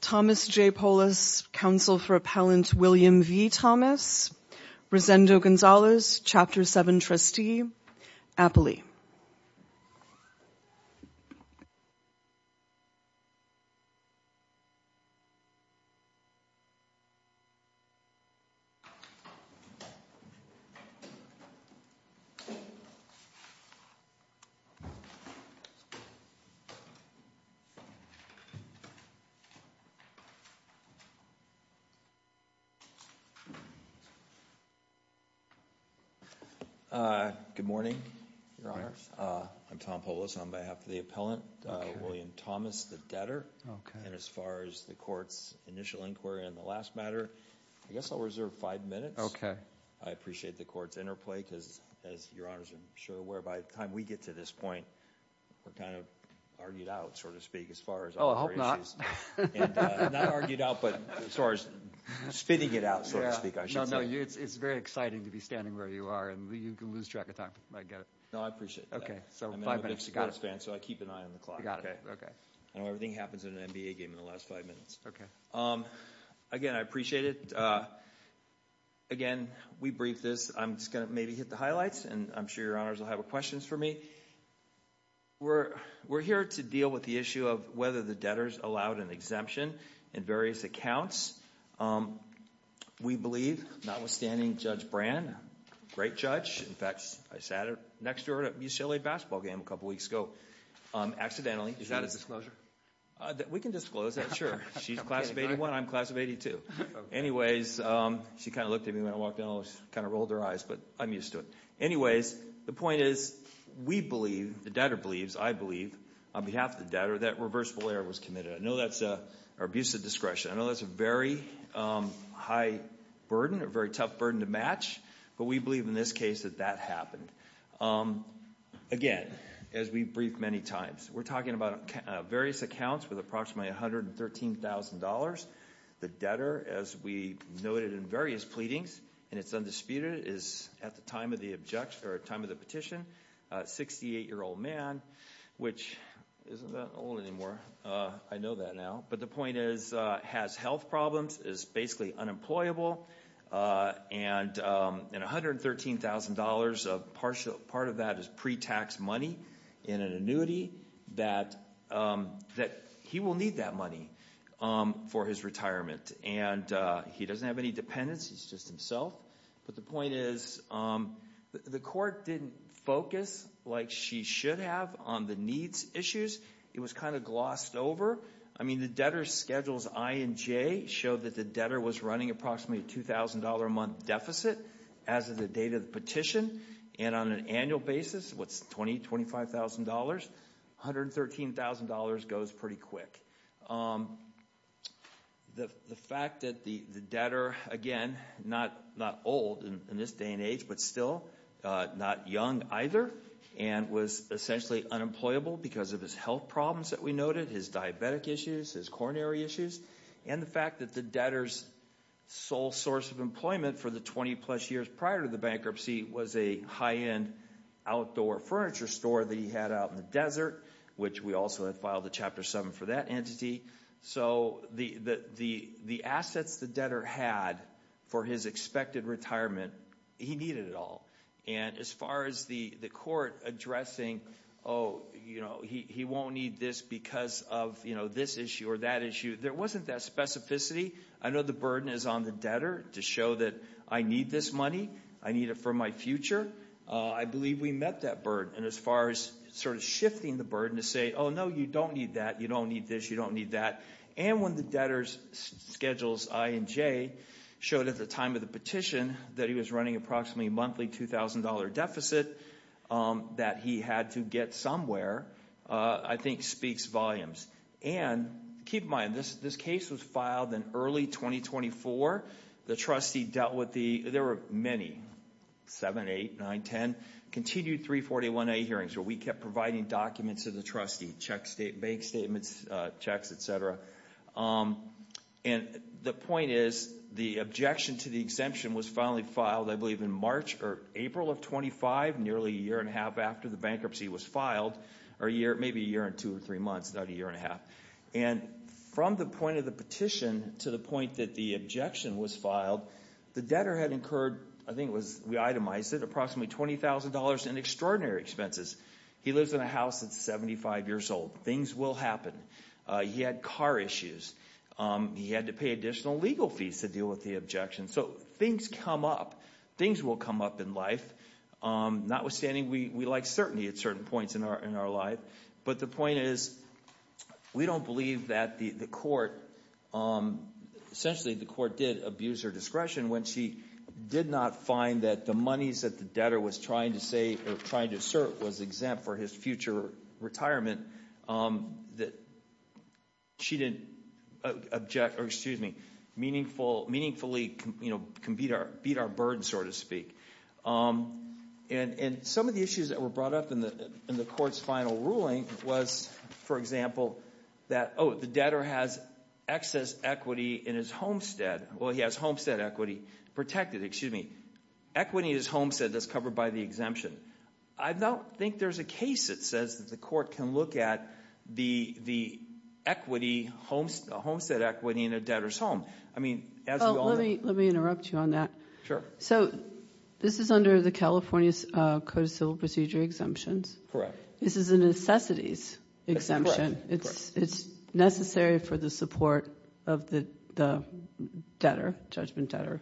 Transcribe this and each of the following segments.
Thomas J. Polis, Counsel for Appellant William V. Thomas, Rosendo Gonzalez, Chapter 7 Trustee, Appley. Good morning, Your Honor. I'm Tom Polis on behalf of the appellant, William Thomas, the debtor. Okay. And as far as the court's initial inquiry on the last matter, I guess I'll reserve five minutes. Okay. I appreciate the court's interplay because, as Your Honor's are sure aware, by the time we get to this point, we're kind of argued out, so to speak, as far as other issues. Oh, I hope not. And not argued out, but as far as spitting it out, so to speak, I should say. No, no. It's very exciting to be standing where you are, and you can lose track of time. I get it. No, I appreciate that. Okay. So, five minutes. You got it. I'm a big Cigarettes fan, so I keep an eye on the clock. You got it. Okay. I know everything happens in an NBA game in the last five minutes. Okay. Again, I appreciate it. Again, we briefed this. I'm just going to maybe hit the highlights, and I'm sure Your Honors will have questions for me. We're here to deal with the issue of whether the debtors allowed an exemption in various accounts. We believe, notwithstanding Judge Brand, a great judge. In fact, I sat next to her at a UCLA basketball game a couple weeks ago, accidentally. Is that a disclosure? We can disclose that, sure. She's class of 81. I'm class of 82. Anyways, she kind of looked at me when I walked in. I kind of rolled her eyes, but I'm used to it. Anyways, the point is we believe, the debtor believes, I believe, on behalf of the debtor, that reversible error was committed. I know that's an abusive discretion. I know that's a very high burden, a very tough burden to match, but we believe in this case that that happened. Again, as we briefed many times, we're talking about various accounts with approximately $113,000. The debtor, as we noted in various pleadings, and it's undisputed, is at the time of the petition, a 68-year-old man, which isn't that old anymore. I know that now, but the point is has health problems, is basically unemployable, and $113,000, a partial part of that is pre-tax money in an annuity that he will need that money for his retirement. He doesn't have any dependents. He's just himself. The point is the court didn't focus like she should have on the needs issues. It was kind of glossed over. I mean, the debtor's schedules I and J show that the debtor was running approximately a $2,000 a month deficit as of the date of the petition, and on an annual basis, what's $20,000, $25,000, $113,000 goes pretty quick. The fact that the debtor, again, not old in this day and age, but still not young either, and was essentially unemployable because of his health problems that we noted, his diabetic issues, his coronary issues, and the fact that the debtor's sole source of employment for the 20-plus years prior to the bankruptcy was a high-end outdoor furniture store that he had out in the desert, which we also had filed a Chapter 7 for that entity. So the assets the debtor had for his expected retirement, he needed it all. And as far as the court addressing, oh, he won't need this because of this issue or that issue, there wasn't that specificity. I know the burden is on the debtor to show that I need this money. I need it for my future. I believe we met that burden, and as far as sort of shifting the burden to say, oh, no, you don't need that. You don't need this. You don't need that. And when the debtor's schedules I and J showed at the time of the petition that he was running approximately a monthly $2,000 deficit that he had to get somewhere, I think speaks volumes. And keep in mind, this case was filed in early 2024. The trustee dealt with the – there were many, 7, 8, 9, 10 continued 341A hearings where we kept providing documents to the trustee, bank statements, checks, et cetera. And the point is the objection to the exemption was finally filed, I believe, in March or April of 25, nearly a year and a half after the bankruptcy was filed, or maybe a year and two or three months, not a year and a half. And from the point of the petition to the point that the objection was filed, the debtor had incurred – I think it was – I said approximately $20,000 in extraordinary expenses. He lives in a house that's 75 years old. Things will happen. He had car issues. He had to pay additional legal fees to deal with the objection. So things come up. Things will come up in life. Notwithstanding, we like certainty at certain points in our life. But the point is we don't believe that the court – essentially the court did abuse her discretion when she did not find that the monies that the debtor was trying to say or trying to assert was exempt for his future retirement, that she didn't object or, excuse me, meaningfully beat our burden, so to speak. And some of the issues that were brought up in the court's final ruling was, for example, that, oh, the debtor has excess equity in his homestead. Well, he has homestead equity protected. Excuse me. Equity is homestead that's covered by the exemption. I don't think there's a case that says that the court can look at the equity, homestead equity in a debtor's home. I mean, as we all know – Well, let me interrupt you on that. Sure. So this is under the California Code of Civil Procedure exemptions. Correct. This is a necessities exemption. That's correct. It's necessary for the support of the debtor, judgment debtor.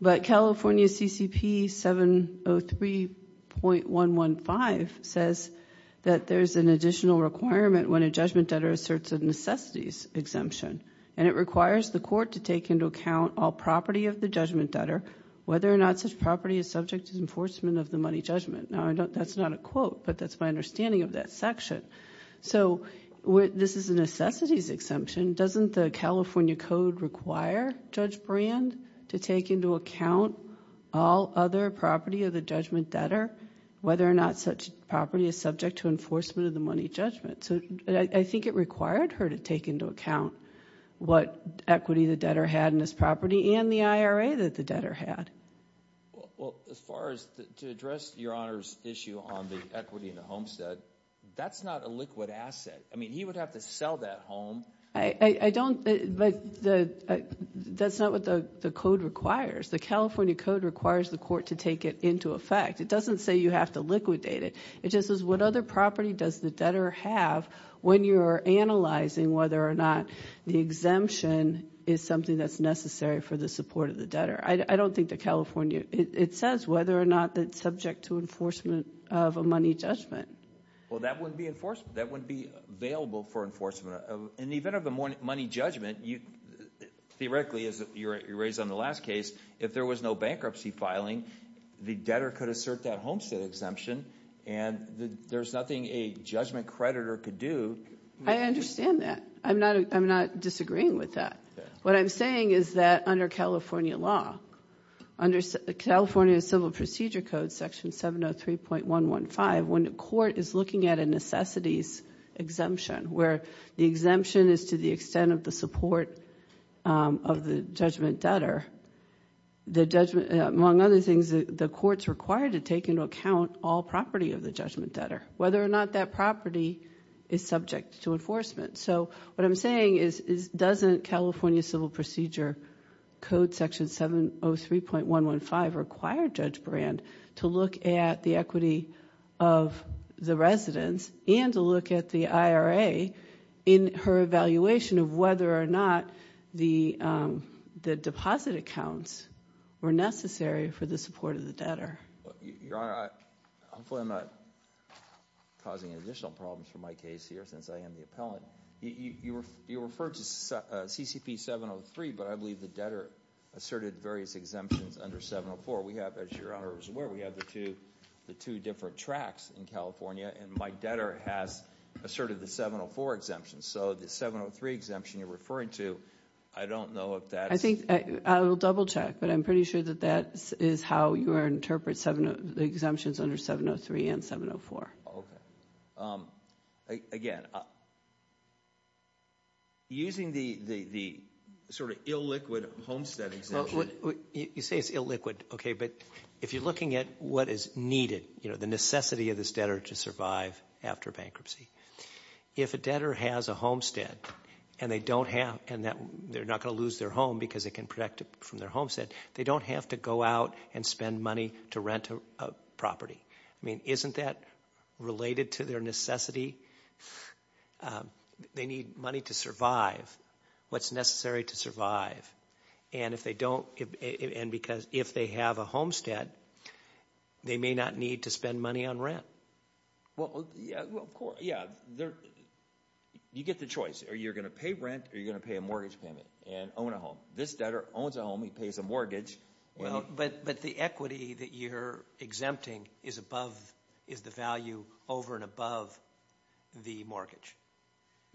But California CCP 703.115 says that there's an additional requirement when a judgment debtor asserts a necessities exemption, and it requires the court to take into account all property of the judgment debtor, whether or not such property is subject to enforcement of the money judgment. Now, that's not a quote, but that's my understanding of that section. So this is a necessities exemption. Doesn't the California Code require Judge Brand to take into account all other property of the judgment debtor, whether or not such property is subject to enforcement of the money judgment? So I think it required her to take into account what equity the debtor had in this property and the IRA that the debtor had. Well, as far as to address Your Honor's issue on the equity in the homestead, that's not a liquid asset. I mean, he would have to sell that home. I don't, but that's not what the code requires. The California Code requires the court to take it into effect. It doesn't say you have to liquidate it. It just says what other property does the debtor have when you're analyzing whether or not the exemption is something that's necessary for the support of the debtor. I don't think the California, it says whether or not it's subject to enforcement of a money judgment. Well, that wouldn't be enforcement. That wouldn't be available for enforcement. In the event of a money judgment, theoretically, as you raised on the last case, if there was no bankruptcy filing, the debtor could assert that homestead exemption, and there's nothing a judgment creditor could do. I understand that. I'm not disagreeing with that. What I'm saying is that under California law, under California Civil Procedure Code, Section 703.115, when the court is looking at a necessities exemption where the exemption is to the extent of the support of the judgment debtor, the judgment, among other things, the court's required to take into account all property of the judgment debtor, whether or not that property is subject to enforcement. So what I'm saying is doesn't California Civil Procedure Code Section 703.115 require Judge Brand to look at the equity of the residents and to look at the IRA in her evaluation of whether or not the deposit accounts were necessary for the support of the debtor? Your Honor, hopefully I'm not causing additional problems for my case here since I am the appellant. You referred to CCP 703, but I believe the debtor asserted various exemptions under 704. We have, as Your Honor is aware, we have the two different tracts in California, and my debtor has asserted the 704 exemption. So the 703 exemption you're referring to, I don't know if that's... I think I will double check, but I'm pretty sure that that is how Your Honor interprets the exemptions under 703 and 704. Okay. Again, using the sort of illiquid homestead exemption... You say it's illiquid, okay, but if you're looking at what is needed, you know, the necessity of this debtor to survive after bankruptcy, if a debtor has a homestead and they don't have... and they're not going to lose their home because they can protect it from their homestead, they don't have to go out and spend money to rent a property. I mean, isn't that related to their necessity? They need money to survive what's necessary to survive, and if they don't... and because if they have a homestead, they may not need to spend money on rent. Well, yeah, of course. Yeah, you get the choice. Are you going to pay rent or are you going to pay a mortgage payment and own a home? This debtor owns a home. He pays a mortgage. But the equity that you're exempting is above... is the value over and above the mortgage.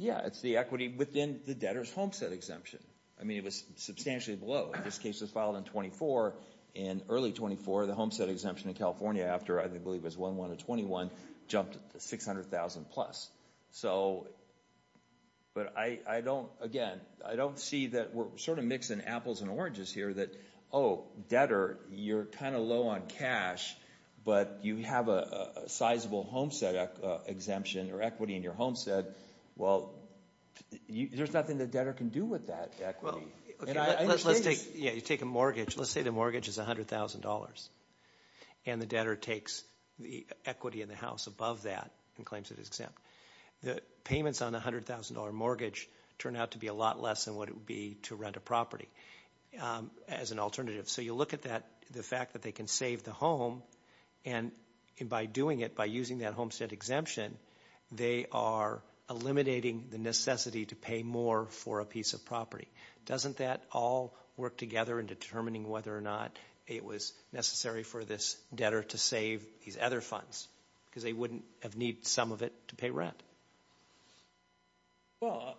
Yeah, it's the equity within the debtor's homestead exemption. I mean, it was substantially below. This case was filed in 24. In early 24, the homestead exemption in California, after I believe it was 1-1 in 21, jumped to $600,000 plus. So, but I don't, again, I don't see that we're sort of mixing apples and oranges here that, oh, debtor, you're kind of low on cash, but you have a sizable homestead exemption or equity in your homestead. Well, there's nothing the debtor can do with that equity. Let's take a mortgage. Let's say the mortgage is $100,000 and the debtor takes the equity in the house above that and claims it is exempt. The payments on a $100,000 mortgage turn out to be a lot less than what it would be to rent a property as an alternative. So you look at that, the fact that they can save the home, and by doing it, by using that homestead exemption, they are eliminating the necessity to pay more for a piece of property. Doesn't that all work together in determining whether or not it was necessary for this debtor to save these other funds? Because they wouldn't have needed some of it to pay rent. Well,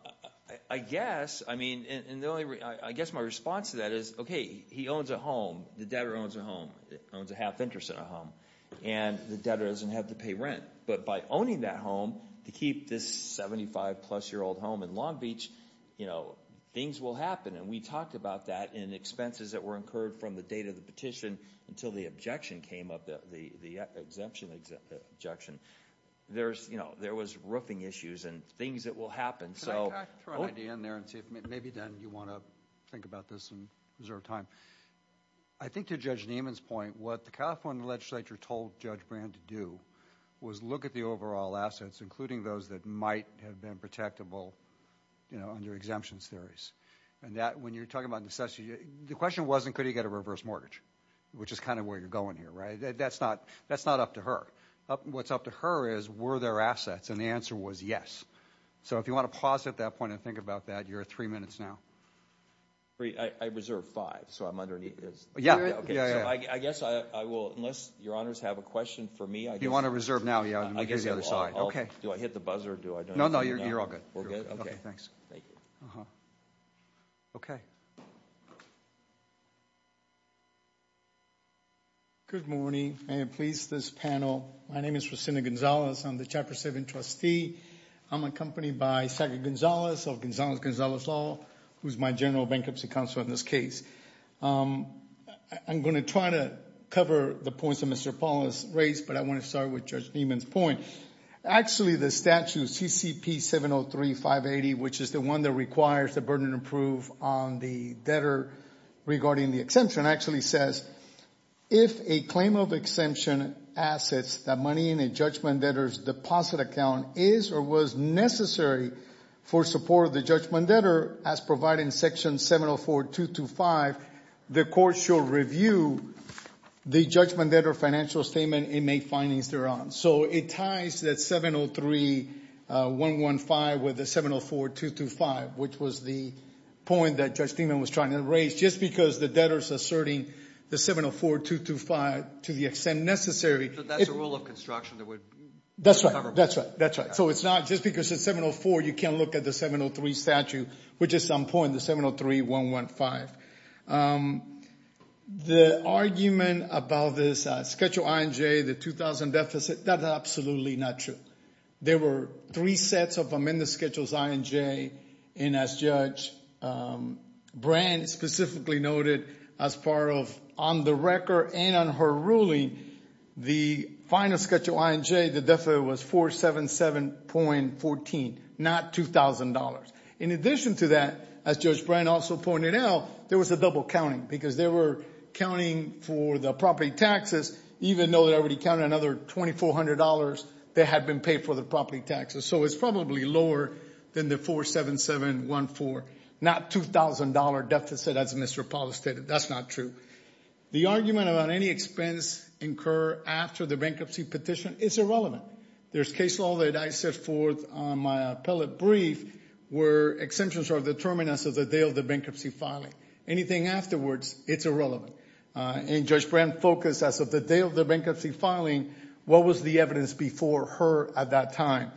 I guess, I mean, and the only, I guess my response to that is, okay, he owns a home, the debtor owns a home, owns a half-interest in a home, and the debtor doesn't have to pay rent. But by owning that home, to keep this 75-plus-year-old home in Long Beach, you know, things will happen. And we talked about that in expenses that were incurred from the date of the petition until the objection came up, the exemption objection. There's, you know, there was roofing issues and things that will happen. Can I throw an idea in there and see if maybe, Dan, you want to think about this and reserve time? I think to Judge Nieman's point, what the California legislature told Judge Brand to do was look at the overall assets, including those that might have been protectable, you know, under exemptions theories. And that, when you're talking about necessity, the question wasn't could he get a reverse mortgage, which is kind of where you're going here, right? That's not up to her. What's up to her is were there assets? And the answer was yes. So if you want to pause at that point and think about that, you're at three minutes now. Great. I reserve five, so I'm underneath. Yeah. Okay. So I guess I will, unless your honors have a question for me, I guess. If you want to reserve now, yeah, I'll give you the other side. Okay. Do I hit the buzzer? No, no, you're all good. We're good? Okay. Okay, thanks. Thank you. Okay. Good morning. May it please this panel. My name is Jacinto Gonzalez. I'm the Chapter 7 trustee. I'm accompanied by Secretary Gonzalez of Gonzalez-Gonzalez Law, who's my General Bankruptcy Counsel in this case. I'm going to try to cover the points that Mr. Paul has raised, but I want to start with Judge Niemann's point. Actually, the statute, CCP 703580, which is the one that requires the burden of proof on the debtor regarding the exemption, actually says, if a claim of exemption assets that money in a judgment debtor's deposit account is or was necessary for support of the judgment debtor as provided in Section 704-225, the court shall review the judgment debtor financial statement and make findings thereon. So it ties that 703-115 with the 704-225, which was the point that Judge Niemann was trying to raise. Just because the debtor is asserting the 704-225 to the extent necessary. So that's a rule of construction that would cover both. That's right, that's right, that's right. So it's not just because it's 704, you can't look at the 703 statute, which is on point, the 703-115. The argument about this Schedule I and J, the 2000 deficit, that's absolutely not true. There were three sets of Amendments Schedules I and J, and as Judge Brand specifically noted as part of on the record and on her ruling, the final Schedule I and J, the deficit was 477.14, not $2,000. In addition to that, as Judge Brand also pointed out, there was a double counting because they were counting for the property taxes, even though they already counted another $2,400 that had been paid for the property taxes. So it's probably lower than the 477.14, not $2,000 deficit as Mr. Paulus stated. That's not true. The argument about any expense incurred after the bankruptcy petition is irrelevant. There's case law that I set forth on my appellate brief where exemptions are determined as of the day of the bankruptcy filing. Anything afterwards, it's irrelevant. And Judge Brand focused as of the day of the bankruptcy filing, what was the evidence before her at that time.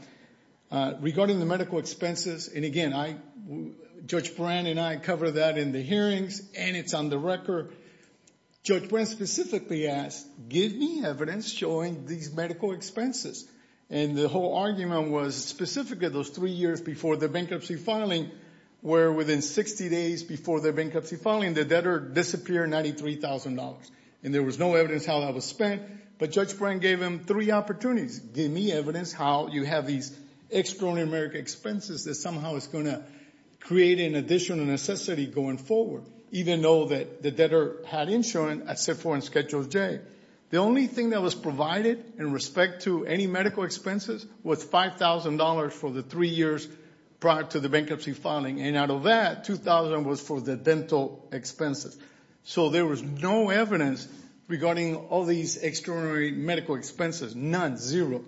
Regarding the medical expenses, and again, Judge Brand and I covered that in the hearings, and it's on the record, Judge Brand specifically asked, give me evidence showing these medical expenses. And the whole argument was specifically those three years before the bankruptcy filing where within 60 days before the bankruptcy filing, the debtor disappeared $93,000. And there was no evidence how that was spent. But Judge Brand gave him three opportunities. Give me evidence how you have these extraordinary American expenses that somehow is going to create an additional necessity going forward, even though the debtor had insurance as set forth in Schedule J. The only thing that was provided in respect to any medical expenses was $5,000 for the three years prior to the bankruptcy filing. And out of that, $2,000 was for the dental expenses. So there was no evidence regarding all these extraordinary medical expenses, none, zero.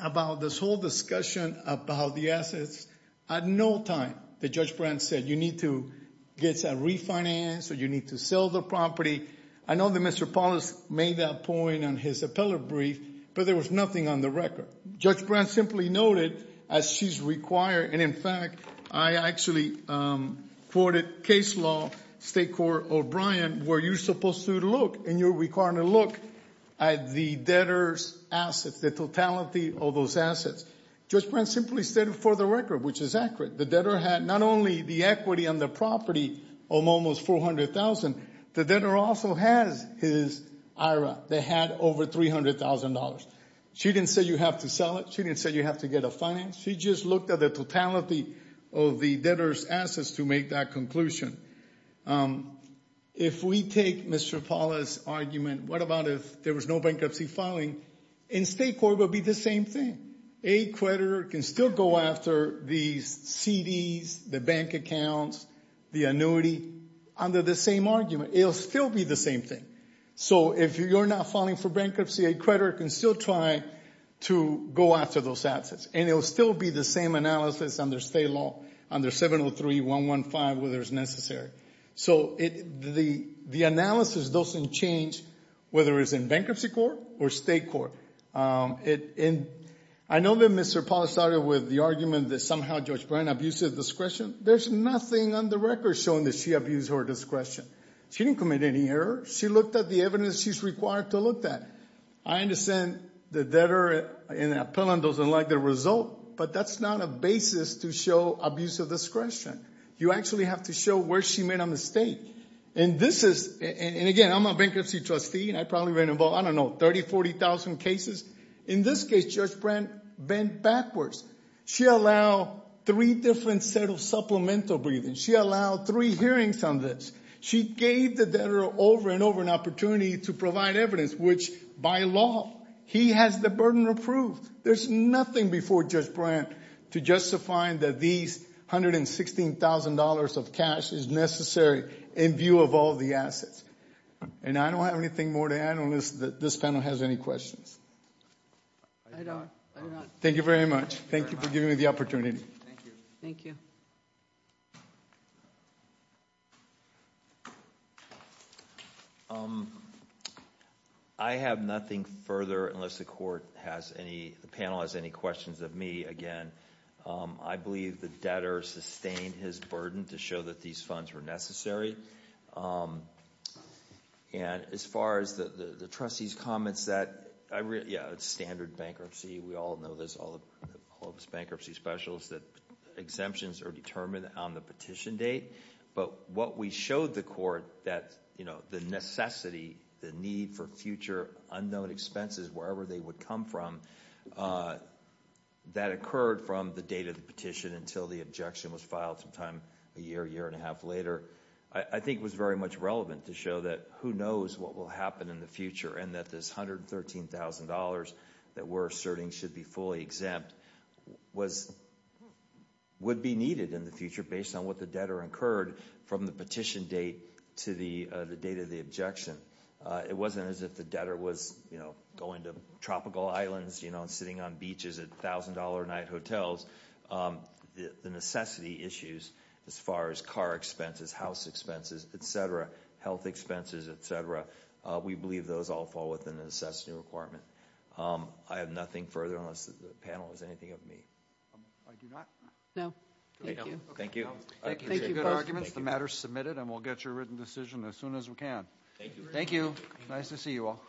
About this whole discussion about the assets, at no time did Judge Brand say, you need to get a refinance or you need to sell the property. I know that Mr. Paulus made that point on his appellate brief, but there was nothing on the record. Judge Brand simply noted, as she's required, and in fact, I actually quoted case law, State Court O'Brien, where you're supposed to look and you're required to look at the debtor's assets, the totality of those assets. Judge Brand simply said it for the record, which is accurate. The debtor had not only the equity on the property of almost $400,000, the debtor also has his IRA that had over $300,000. She didn't say you have to sell it. She didn't say you have to get a finance. She just looked at the totality of the debtor's assets to make that conclusion. If we take Mr. Paulus' argument, what about if there was no bankruptcy filing? In State Court, it would be the same thing. A creditor can still go after these CDs, the bank accounts, the annuity, under the same argument. It will still be the same thing. So if you're not filing for bankruptcy, a creditor can still try to go after those assets, and it will still be the same analysis under State law, under 703.115, whether it's necessary. So the analysis doesn't change whether it's in bankruptcy court or State court. I know that Mr. Paulus started with the argument that somehow Judge Brand abuses discretion. There's nothing on the record showing that she abused her discretion. She didn't commit any errors. She looked at the evidence she's required to look at. I understand the debtor in the appellant doesn't like the result, but that's not a basis to show abuse of discretion. You actually have to show where she made a mistake. And, again, I'm a bankruptcy trustee, and I probably ran about, I don't know, 30,000, 40,000 cases. In this case, Judge Brand bent backwards. She allowed three different set of supplemental briefings. She allowed three hearings on this. She gave the debtor over and over an opportunity to provide evidence, which, by law, he has the burden approved. There's nothing before Judge Brand to justify that these $116,000 of cash is necessary in view of all the assets. And I don't have anything more to add unless this panel has any questions. I don't. Thank you very much. Thank you for giving me the opportunity. Thank you. I have nothing further unless the panel has any questions of me. Again, I believe the debtor sustained his burden to show that these funds were necessary. And as far as the trustee's comments that, yeah, it's standard bankruptcy. We all know this, all of us bankruptcy specialists, that exemptions are determined on the petition date. But what we showed the court, that, you know, the necessity, the need for future unknown expenses, wherever they would come from, that occurred from the date of the petition until the objection was filed sometime a year, year and a half later, I think was very much relevant to show that who knows what will happen in the future, and that this $113,000 that we're asserting should be fully exempt would be needed in the future based on what the debtor incurred from the petition date to the date of the objection. It wasn't as if the debtor was going to tropical islands and sitting on beaches at $1,000 a night hotels. The necessity issues as far as car expenses, house expenses, etc., health expenses, etc., we believe those all fall within the necessity requirement. I have nothing further unless the panel has anything of me. I do not? No. Thank you. I appreciate good arguments. The matter is submitted, and we'll get your written decision as soon as we can. Thank you. Thank you. Nice to see you all.